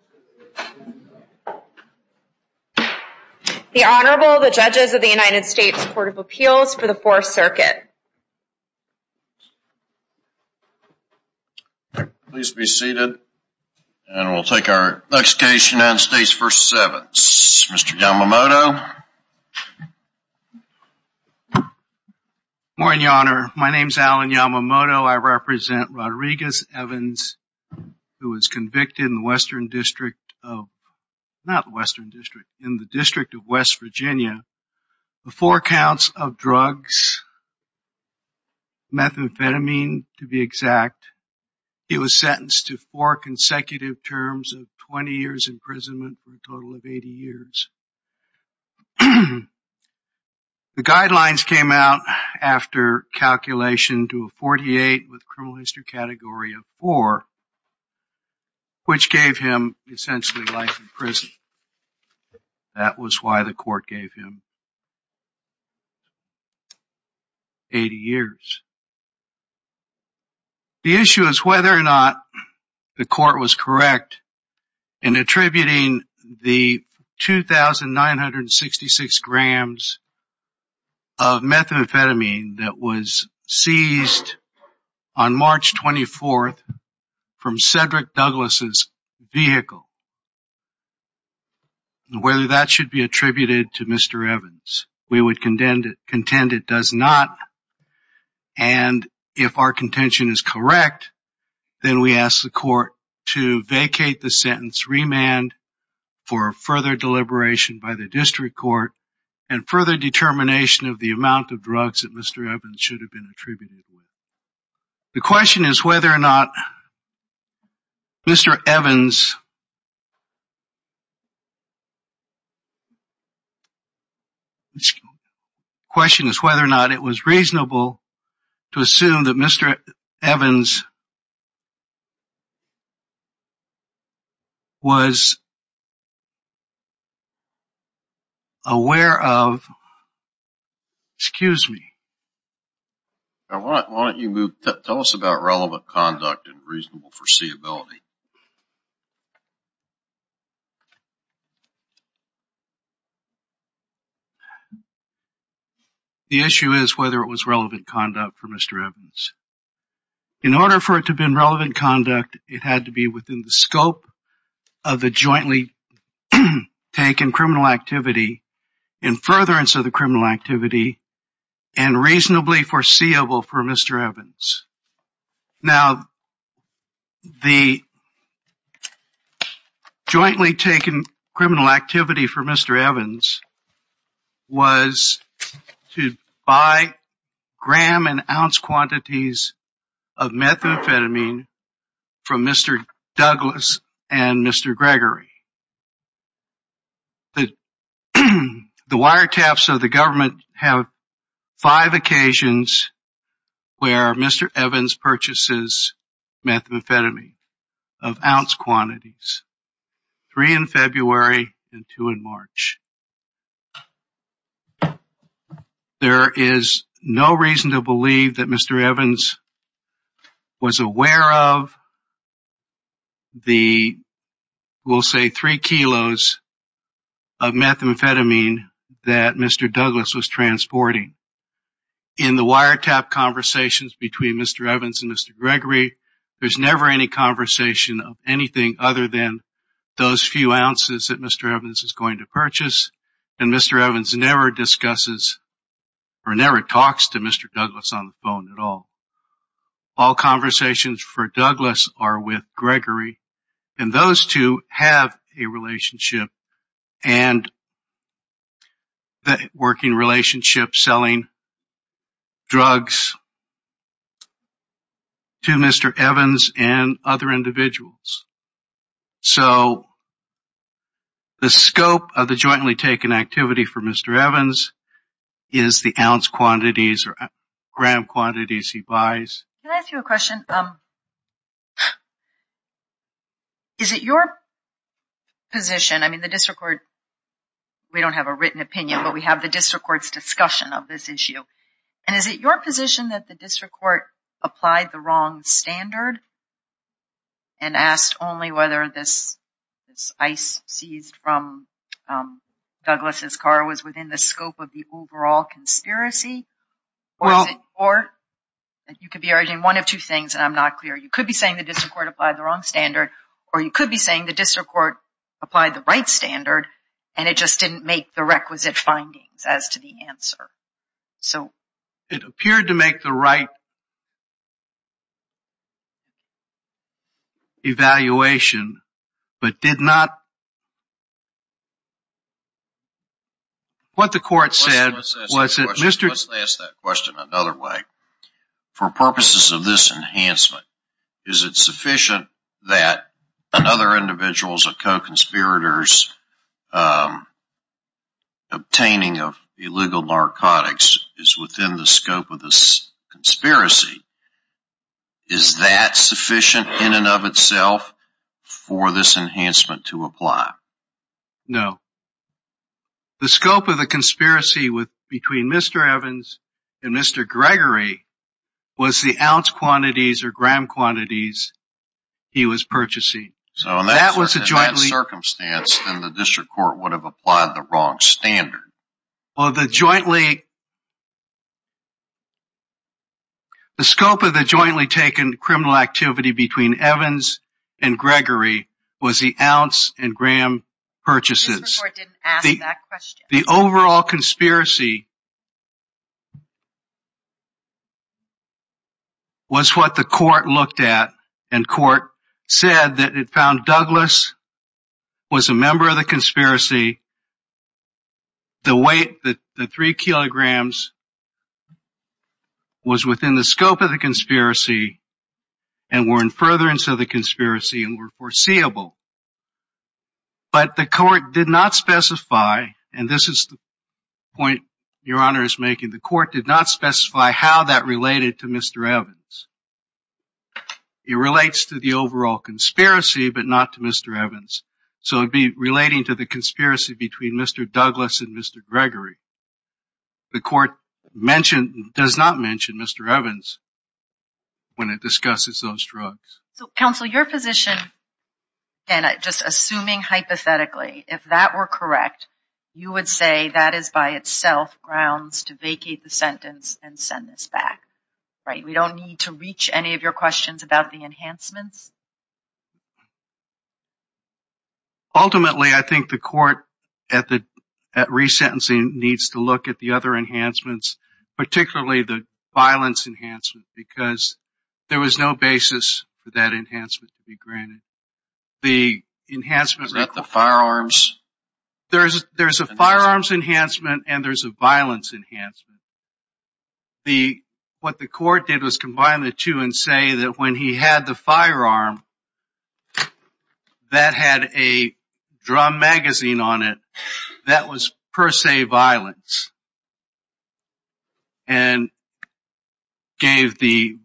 who is convicted in the Western District of New York for the murder of a young girl. The Honorable, the Judges of the United States Court of Appeals for the Fourth Circuit. Please be seated. And we'll take our next case, United States v. Evans. Mr. Yamamoto. Good morning, Your Honor. My name is Alan Yamamoto. I represent Rodriquies Evans who was convicted in the Western District of, not the Western District, in the District of West Virginia for four counts of drugs, methamphetamine to be exact. He was sentenced to four consecutive terms of 20 years imprisonment for a total of 80 years. The guidelines came out after calculation to a 48 with criminal history category of 4, which gave him essentially life in prison. That was why the court gave him 80 years. The issue is whether or not the court was correct in attributing the 2,966 grams of methamphetamine that was seized on March 24th from Cedric Douglas' vehicle. And whether that should be attributed to Mr. Evans. We would contend it does not. And if our contention is correct, then we ask the court to vacate the sentence, remand for further deliberation by the District Court and further determination of the amount of drugs that Mr. Evans should have been attributed with. The question is whether or not Mr. Evans... The question is whether or not it was reasonable to assume that Mr. Evans was aware of... Excuse me. Why don't you move... Tell us about relevant conduct and reasonable foreseeability. The issue is whether it was relevant conduct for Mr. Evans. In order for it to have been relevant conduct, it had to be within the scope of the jointly taken criminal activity and furtherance of the criminal activity and reasonably foreseeable for Mr. Evans. Now, the jointly taken criminal activity for Mr. Evans was to buy gram and ounce quantities of methamphetamine from Mr. Douglas and Mr. Gregory. The wiretaps of the government have five occasions where Mr. Evans purchases methamphetamine of ounce quantities. Three in February and two in March. There is no reason to believe that Mr. Evans was aware of the, we'll say, three kilos of methamphetamine that Mr. Douglas was transporting. In the wiretap conversations between Mr. Evans and Mr. Gregory, there's never any conversation of anything other than those few ounces that Mr. Evans is going to purchase. And Mr. Evans never discusses or never talks to Mr. Douglas on the phone at all. All conversations for Douglas are with Gregory. And those two have a relationship and working relationship selling drugs to Mr. Evans and other individuals. So, the scope of the jointly taken activity for Mr. Evans is the ounce quantities or gram quantities he buys. Can I ask you a question? Is it your position, I mean the district court, we don't have a written opinion, but we have the district court's discussion of this issue. And is it your position that the district court applied the wrong standard and asked only whether this ice seized from Douglas' car was within the scope of the overall conspiracy? Or you could be arguing one of two things and I'm not clear. You could be saying the district court applied the wrong standard or you could be saying the district court applied the right standard and it just didn't make the requisite findings as to the answer. So, it appeared to make the right evaluation, but did not. What the court said was that Mr. Let's ask that question another way. For purposes of this enhancement, is it sufficient that another individual's or co-conspirator's obtaining of illegal narcotics is within the scope of this conspiracy? Is that sufficient in and of itself for this enhancement to apply? No. The scope of the conspiracy between Mr. Evans and Mr. Gregory was the ounce quantities or gram quantities he was purchasing. So, in that circumstance, then the district court would have applied the wrong standard. Well, the jointly The scope of the jointly taken criminal activity between Evans and Gregory was the ounce and gram purchases. The district court didn't ask that question. The overall conspiracy was what the court looked at and court said that it found Douglas was a member of the conspiracy. The weight, the three kilograms, was within the scope of the conspiracy and were in furtherance of the conspiracy and were foreseeable. But the court did not specify, and this is the point Your Honor is making, the court did not specify how that related to Mr. Evans. It relates to the overall conspiracy, but not to Mr. Evans. So, it would be relating to the conspiracy between Mr. Douglas and Mr. Gregory. The court does not mention Mr. Evans when it discusses those drugs. Counsel, your position, and just assuming hypothetically, if that were correct, you would say that is by itself grounds to vacate the sentence and send this back. We don't need to reach any of your questions about the enhancements? Ultimately, I think the court at resentencing needs to look at the other enhancements, particularly the violence enhancement, because there was no basis for that enhancement to be granted. Is that the firearms? There's a firearms enhancement and there's a violence enhancement. What the court did was combine the two and say that when he had the firearm that had a drum magazine on it, that was per se violence and gave the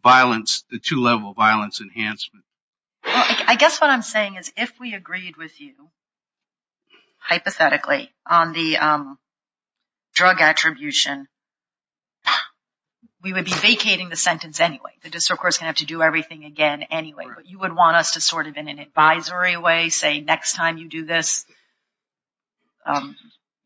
two-level violence enhancement. I guess what I'm saying is if we agreed with you, hypothetically, on the drug attribution, we would be vacating the sentence anyway. The district court is going to have to do everything again anyway. You would want us to, in an advisory way, say next time you do this,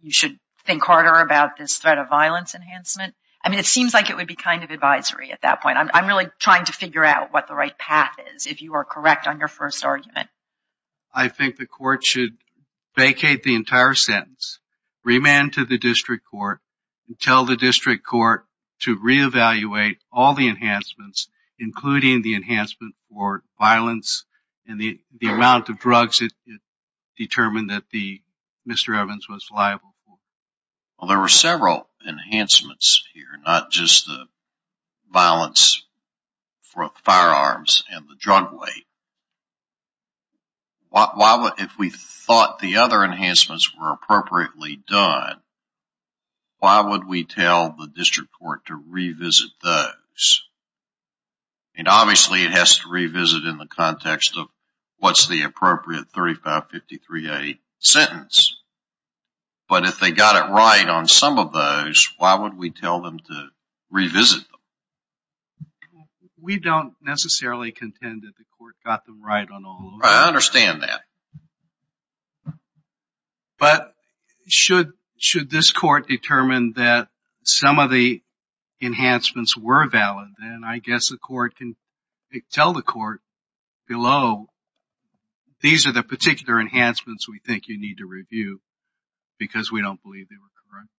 you should think harder about this threat of violence enhancement? It seems like it would be kind of advisory at that point. I'm really trying to figure out what the right path is, if you are correct on your first argument. I think the court should vacate the entire sentence, remand to the district court, and tell the district court to reevaluate all the enhancements, including the enhancement for violence and the amount of drugs it determined that Mr. Evans was liable for. There were several enhancements here, not just the violence for firearms and the drug weight. If we thought the other enhancements were appropriately done, why would we tell the district court to revisit those? Obviously, it has to revisit in the context of what's the appropriate 3553A sentence. But if they got it right on some of those, why would we tell them to revisit them? We don't necessarily contend that the court got them right on all of them. I understand that. But should this court determine that some of the enhancements were valid, then I guess the court can tell the court below, these are the particular enhancements we think you need to review, because we don't believe they were correct.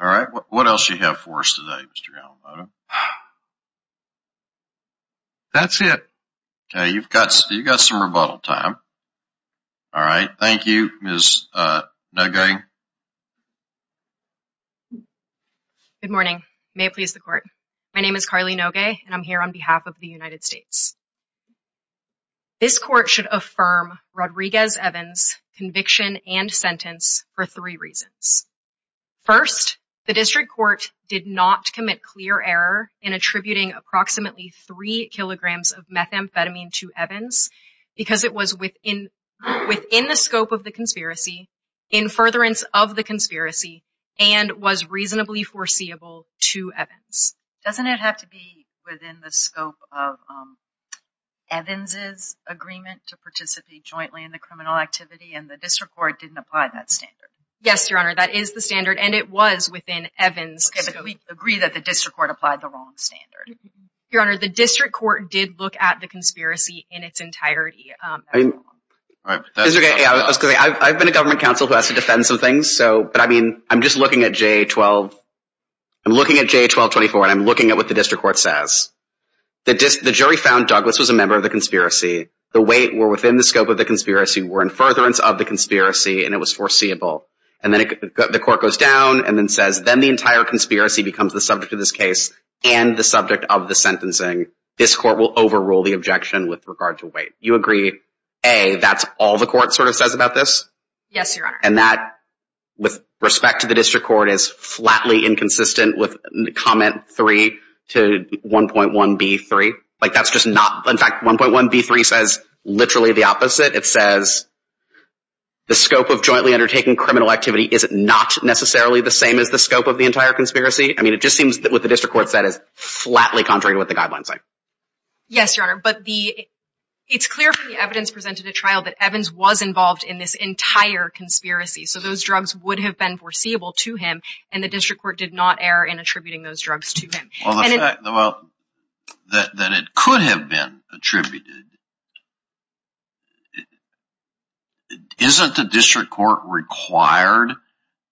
All right. What else do you have for us today, Mr. Alamoto? That's it. You've got some rebuttal time. All right. Thank you, Ms. Nogay. Good morning. May it please the court. My name is Carly Nogay, and I'm here on behalf of the United States. This court should affirm Rodriguez-Evans' conviction and sentence for three reasons. First, the district court did not commit clear error in attributing approximately three kilograms of methamphetamine to Evans because it was within the scope of the conspiracy, in furtherance of the conspiracy, and was reasonably foreseeable to Evans. Doesn't it have to be within the scope of Evans' agreement to participate jointly in the criminal activity, and the district court didn't apply that standard? Yes, Your Honor, that is the standard, and it was within Evans' – Okay, but we agree that the district court applied the wrong standard. Your Honor, the district court did look at the conspiracy in its entirety. All right. I've been a government counsel who has to defend some things, so – but I mean, I'm just looking at J-12. I'm looking at J-1224, and I'm looking at what the district court says. The jury found Douglas was a member of the conspiracy. The weight were within the scope of the conspiracy, were in furtherance of the conspiracy, and it was foreseeable. And then the court goes down and then says, then the entire conspiracy becomes the subject of this case and the subject of the sentencing. This court will overrule the objection with regard to weight. You agree, A, that's all the court sort of says about this? Yes, Your Honor. With respect to the district court, it's flatly inconsistent with comment 3 to 1.1b3. Like, that's just not – in fact, 1.1b3 says literally the opposite. It says the scope of jointly undertaking criminal activity is not necessarily the same as the scope of the entire conspiracy. I mean, it just seems that what the district court said is flatly contrary to what the guidelines say. Yes, Your Honor, but the – it's clear from the evidence presented at trial that Evans was involved in this entire conspiracy, so those drugs would have been foreseeable to him, and the district court did not err in attributing those drugs to him. Well, the fact that it could have been attributed, isn't the district court required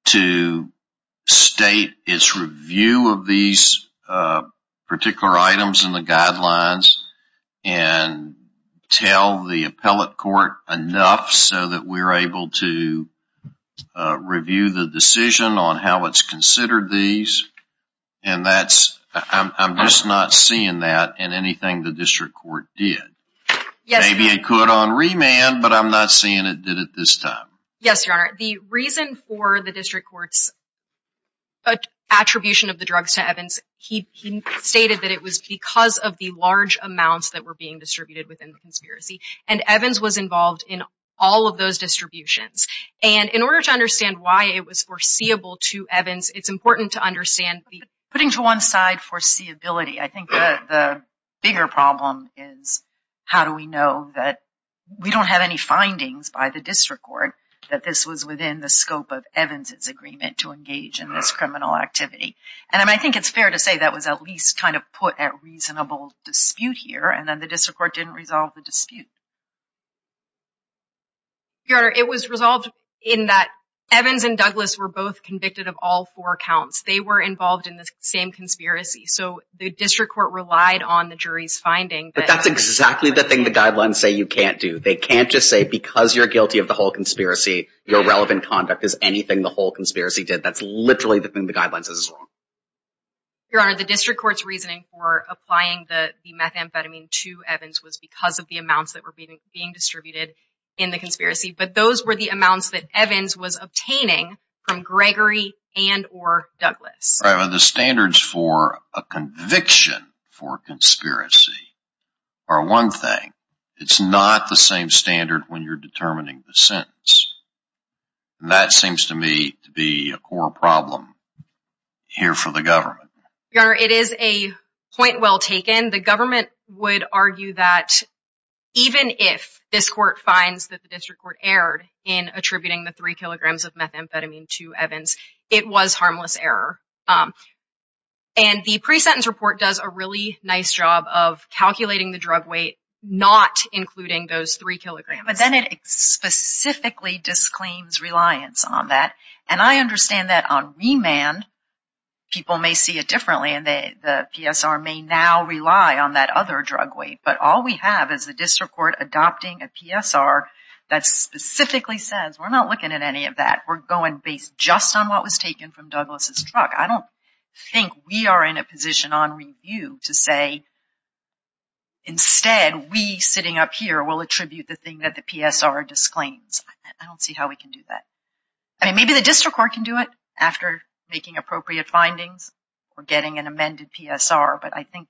to state its review of these particular items in the guidelines and tell the appellate court enough so that we're able to review the decision on how it's considered these? And that's – I'm just not seeing that in anything the district court did. Maybe it could on remand, but I'm not seeing it did it this time. Yes, Your Honor. The reason for the district court's attribution of the drugs to Evans, he stated that it was because of the large amounts that were being distributed within the conspiracy, and Evans was involved in all of those distributions. And in order to understand why it was foreseeable to Evans, it's important to understand the – Putting to one side foreseeability, I think the bigger problem is how do we know that we don't have any findings by the district court that this was within the scope of Evans' agreement to engage in this criminal activity. And I think it's fair to say that was at least kind of put at reasonable dispute here, and then the district court didn't resolve the dispute. Your Honor, it was resolved in that Evans and Douglas were both convicted of all four counts. They were involved in the same conspiracy, so the district court relied on the jury's finding. But that's exactly the thing the guidelines say you can't do. They can't just say because you're guilty of the whole conspiracy, your relevant conduct is anything the whole conspiracy did. That's literally the thing the guidelines say is wrong. Your Honor, the district court's reasoning for applying the methamphetamine to Evans was because of the amounts that were being distributed in the conspiracy, but those were the amounts that Evans was obtaining from Gregory and or Douglas. The standards for a conviction for conspiracy are one thing. It's not the same standard when you're determining the sentence. And that seems to me to be a core problem here for the government. Your Honor, it is a point well taken. The government would argue that even if this court finds that the district court erred in attributing the three kilograms of methamphetamine to Evans, it was harmless error. And the pre-sentence report does a really nice job of calculating the drug weight, not including those three kilograms. But then it specifically disclaims reliance on that. And I understand that on remand people may see it differently and the PSR may now rely on that other drug weight. But all we have is the district court adopting a PSR that specifically says we're not looking at any of that. We're going based just on what was taken from Douglas' truck. I don't think we are in a position on review to say instead we sitting up here we'll attribute the thing that the PSR disclaims. I don't see how we can do that. Maybe the district court can do it after making appropriate findings or getting an amended PSR. But I think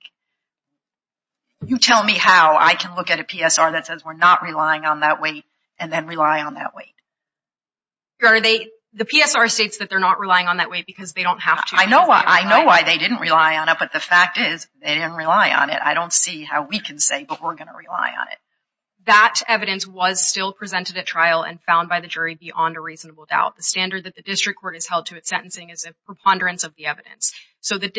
you tell me how I can look at a PSR that says we're not relying on that weight and then rely on that weight. Your Honor, the PSR states that they're not relying on that weight because they don't have to. I know why they didn't rely on it. But the fact is they didn't rely on it. I don't see how we can say but we're going to rely on it. That evidence was still presented at trial and found by the jury beyond a reasonable doubt. The standard that the district court has held to its sentencing is a preponderance of the evidence. So the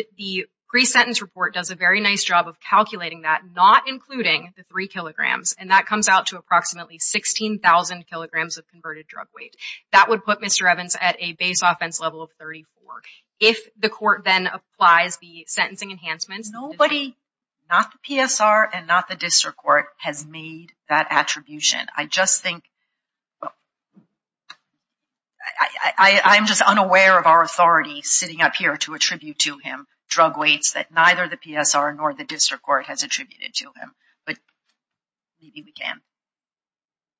pre-sentence report does a very nice job of calculating that, not including the three kilograms. And that comes out to approximately 16,000 kilograms of converted drug weight. That would put Mr. Evans at a base offense level of 34. If the court then applies the sentencing enhancements... I just think... I'm just unaware of our authority sitting up here to attribute to him drug weights that neither the PSR nor the district court has attributed to him. But maybe we can.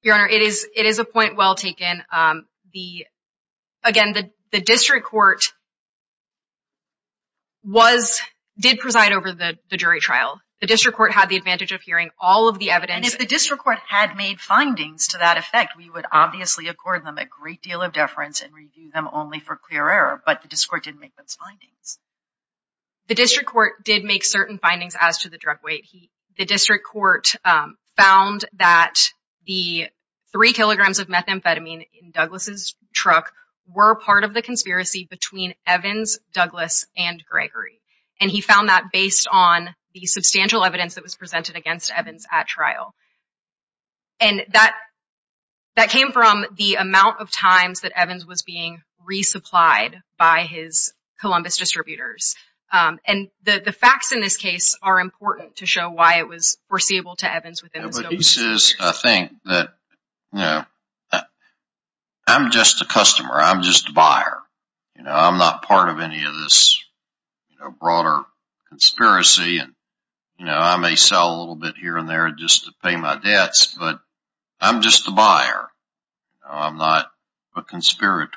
Your Honor, it is a point well taken. Again, the district court did preside over the jury trial. The district court had the advantage of hearing all of the evidence. If the district court had made findings to that effect, we would obviously accord them a great deal of deference and review them only for clear error. But the district court didn't make those findings. The district court did make certain findings as to the drug weight. The district court found that the three kilograms of methamphetamine in Douglas' truck were part of the conspiracy between Evans, Douglas, and Gregory. And he found that based on the substantial evidence that was presented against Evans at trial. And that came from the amount of times that Evans was being resupplied by his Columbus distributors. And the facts in this case are important to show why it was foreseeable to Evans within the scope of this case. I think that I'm just a customer. I'm just a buyer. I'm not part of any of this broader conspiracy. And I may sell a little bit here and there just to pay my debts. But I'm just a buyer. I'm not a conspirator.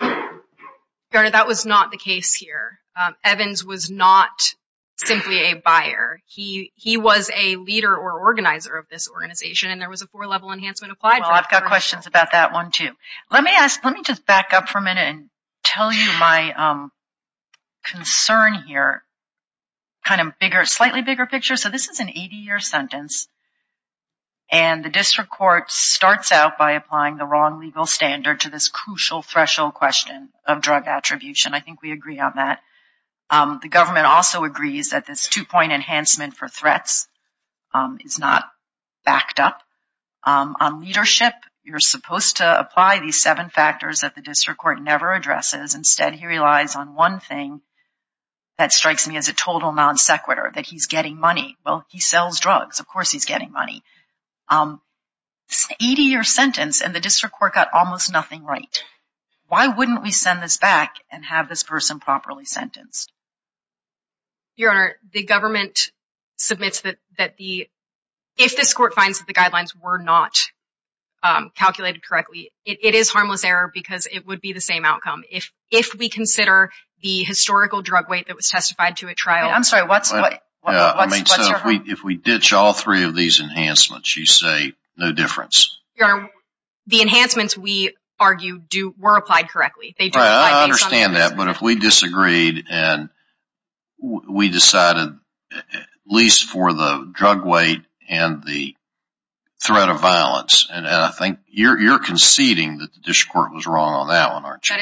Gardner, that was not the case here. Evans was not simply a buyer. He was a leader or organizer of this organization. And there was a four-level enhancement applied for that. Well, I've got questions about that one, too. Let me just back up for a minute and tell you my concern here. Kind of bigger, slightly bigger picture. So this is an 80-year sentence. And the district court starts out by applying the wrong legal standard to this crucial threshold question of drug attribution. I think we agree on that. The government also agrees that this two-point enhancement for threats is not backed up. On leadership, you're supposed to apply these seven factors that the district court never addresses. Instead, he relies on one thing that strikes me as a total non sequitur, that he's getting money. Well, he sells drugs. Of course he's getting money. 80-year sentence, and the district court got almost nothing right. Why wouldn't we send this back and have this person properly sentenced? Your Honor, the government submits that if this court finds that the guidelines were not calculated correctly, it is harmless error because it would be the same outcome if we consider the historical drug weight that was testified to at trial. I'm sorry, what's your point? If we ditch all three of these enhancements, you say no difference? Your Honor, the enhancements we argue were applied correctly. I understand that, but if we disagreed and we decided at least for the drug weight and the threat of violence, and I think you're conceding that the district court was wrong on that one, aren't you?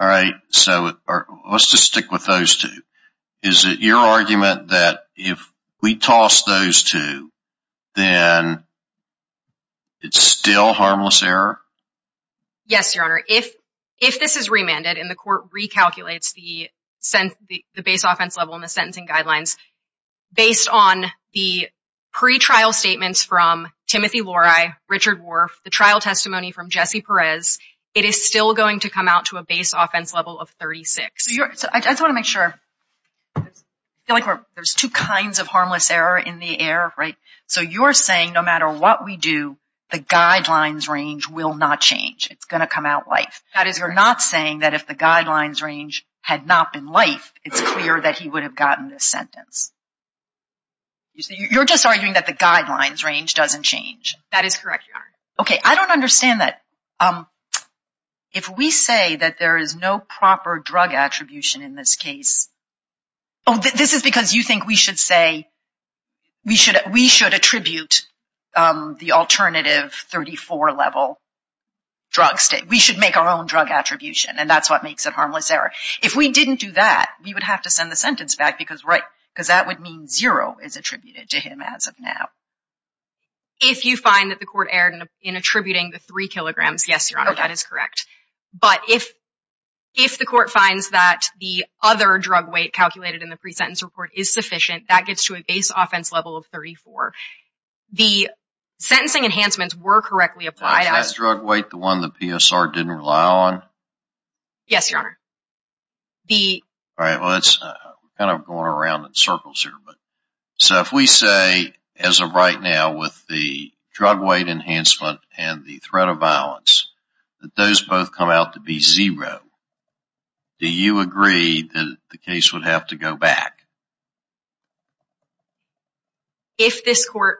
All right. Let's just stick with those two. Is it your argument that if we toss those two, then it's still harmless error? Yes, Your Honor. If this is remanded and the court recalculates the base offense level and the sentencing guidelines, based on the pre-trial statements from Timothy Lori, Richard Worf, the trial testimony from Jesse Perez, it is still going to come out to a base offense level of 36. I just want to make sure. I feel like there's two kinds of harmless error in the air, right? So you're saying no matter what we do, the guidelines range will not change. It's going to come out life. That is, you're not saying that if the guidelines range had not been life, it's clear that he would have gotten this sentence. You're just arguing that the guidelines range doesn't change. That is correct, Your Honor. Okay, I don't understand that. If we say that there is no proper drug attribution in this case, this is because you think we should attribute the alternative 34-level drug state. We should make our own drug attribution and that's what makes it harmless error. If we didn't do that, we would have to send the sentence back because that would mean zero is attributed to him as of now. If you find that the court erred in attributing the three kilograms, yes, Your Honor, that is correct. But if the court finds that the other drug weight calculated in the pre-sentence report is sufficient, that gets to a base offense level of 34. The sentencing enhancements were correctly applied. Is that drug weight the one the PSR didn't rely on? Yes, Your Honor. All right, well, we're kind of going around in circles here. So if we say as of right now with the drug weight enhancement and the threat of violence, that those both come out to be zero, do you agree that the case would have to go back? If this court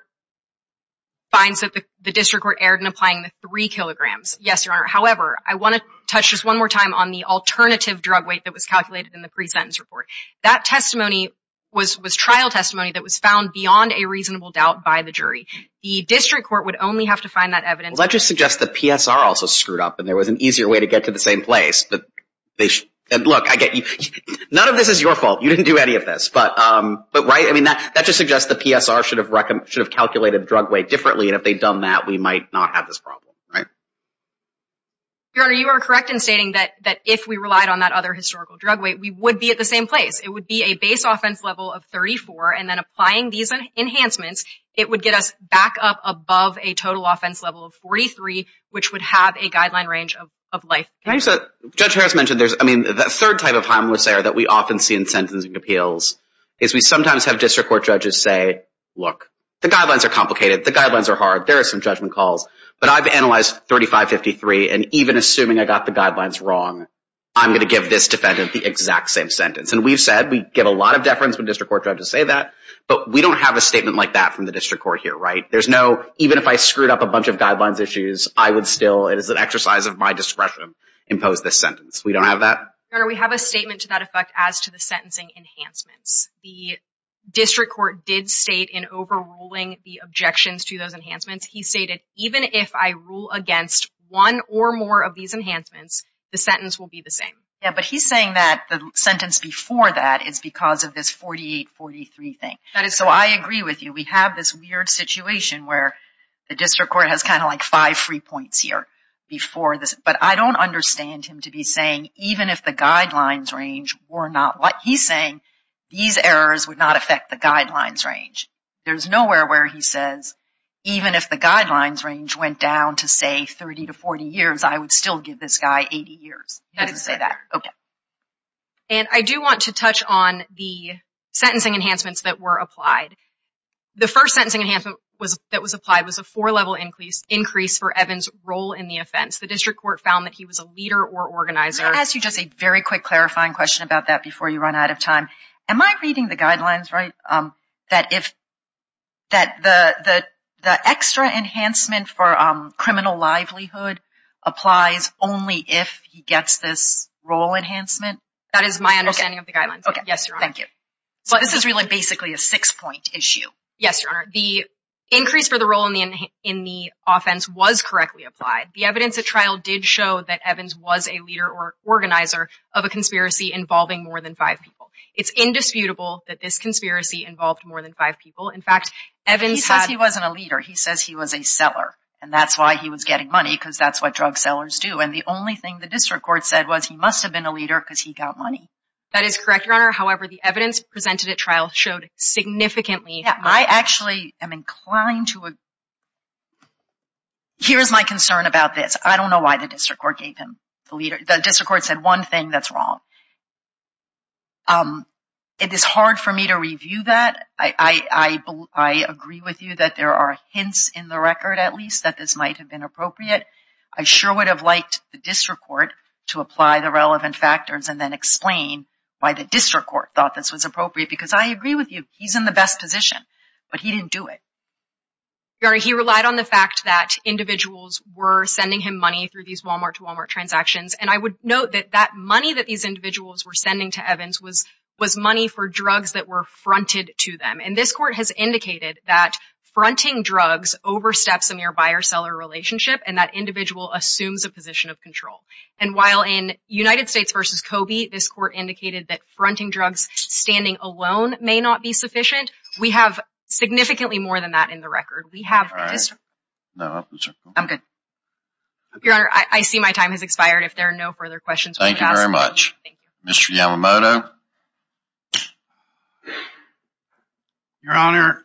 finds that the district court erred in applying the three kilograms, yes, Your Honor. However, I want to touch just one more time on the alternative drug weight that was calculated in the pre-sentence report. That testimony was trial testimony that was found beyond a reasonable doubt by the jury. The district court would only have to find that evidence. Well, that just suggests the PSR also screwed up and there was an easier way to get to the same place. Look, none of this is your fault. You didn't do any of this. But that just suggests the PSR should have calculated drug weight differently and if they'd done that, we might not have this problem, right? Your Honor, you are correct in stating that if we relied on that other historical drug weight, we would be at the same place. It would be a base offense level of 34 and then applying these enhancements, it would get us back up above a total offense level of 43, which would have a guideline range of life. Judge Harris mentioned, I mean, the third type of harmless error that we often see in sentencing appeals is we sometimes have district court judges say, look, the guidelines are complicated, the guidelines are hard, there are some judgment calls, but I've analyzed 3553 and even assuming I got the guidelines wrong, I'm going to give this defendant the exact same sentence. And we've said we get a lot of deference when district court judges say that, but we don't have a statement like that from the district court here, right? There's no, even if I screwed up a bunch of guidelines issues, I would still, as an exercise of my discretion, impose this sentence. We don't have that? Your Honor, we have a statement to that effect as to the sentencing enhancements. The district court did state in overruling the objections to those enhancements, he stated, even if I rule against one or more of these enhancements, the sentence will be the same. Yeah, but he's saying that the sentence before that is because of this 4843 thing. So I agree with you. We have this weird situation where the district court has kind of like five free points here before this, but I don't understand him to be saying, even if the guidelines range were not what he's saying, these errors would not affect the guidelines range. There's nowhere where he says, even if the guidelines range went down to say 30 to 40 years, I would still give this guy 80 years. He doesn't say that. And I do want to touch on the sentencing enhancements that were applied. The first sentencing enhancement that was applied was a four-level increase for Evans' role in the offense. The district court found that he was a leader or organizer. Can I ask you just a very quick clarifying question about that before you run out of time? Am I reading the guidelines right? That if the extra enhancement for criminal livelihood applies only if he gets this role enhancement? That is my understanding of the guidelines. Yes, Your Honor. So this is really basically a six-point issue. Yes, Your Honor. The increase for the role in the offense was correctly applied. The evidence at trial did show that Evans was a leader or organizer of a conspiracy involving more than five people. It's indisputable that this conspiracy involved more than five people. In fact, Evans had... He says he wasn't a leader. He says he was a seller, and that's why he was getting money because that's what drug sellers do. And the only thing the district court said was he must have been a leader because he got money. That is correct, Your Honor. However, the evidence presented at trial showed significantly... I actually am inclined to... Here's my concern about this. I don't know why the district court gave him the leader. The district court said one thing that's wrong. It is hard for me to review that. I agree with you that there are hints in the record, at least, that this might have been appropriate. I sure would have liked the district court to apply the relevant factors and then explain why the district court thought this was appropriate because I agree with you. He's in the best position, but he didn't do it. Your Honor, he relied on the fact that individuals were sending him money through these Walmart-to-Walmart transactions, and I would note that that money that these individuals were sending to Evans was money for drugs that were fronted to them. And this court has indicated that fronting drugs oversteps a mere buyer-seller relationship and that individual assumes a position of control. And while in United States v. Kobe, this court indicated that fronting drugs standing alone may not be sufficient, we have significantly more than that in the record. We have... I'm good. Your Honor, I see my time has expired. If there are no further questions... Thank you very much. Mr. Yamamoto? Your Honor,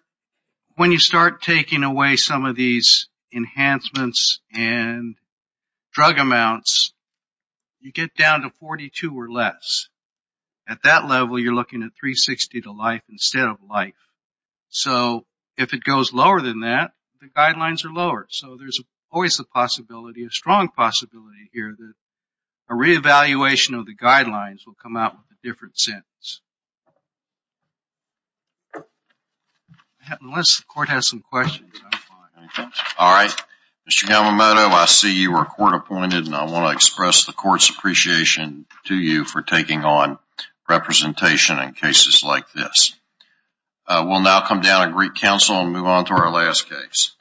when you start taking away some of these enhancements and drug amounts, you get down to 42 or less. At that level, you're looking at 360 to life instead of life. So, if it goes lower than that, the guidelines are lower. That's a possibility, a strong possibility here that a re-evaluation of the guidelines will come out with a different sentence. Unless the court has some questions, I'm fine. All right. Mr. Yamamoto, I see you were court-appointed and I want to express the court's appreciation to you for taking on representation in cases like this. We'll now come down to Greek counsel and move on to our last case. Thank you.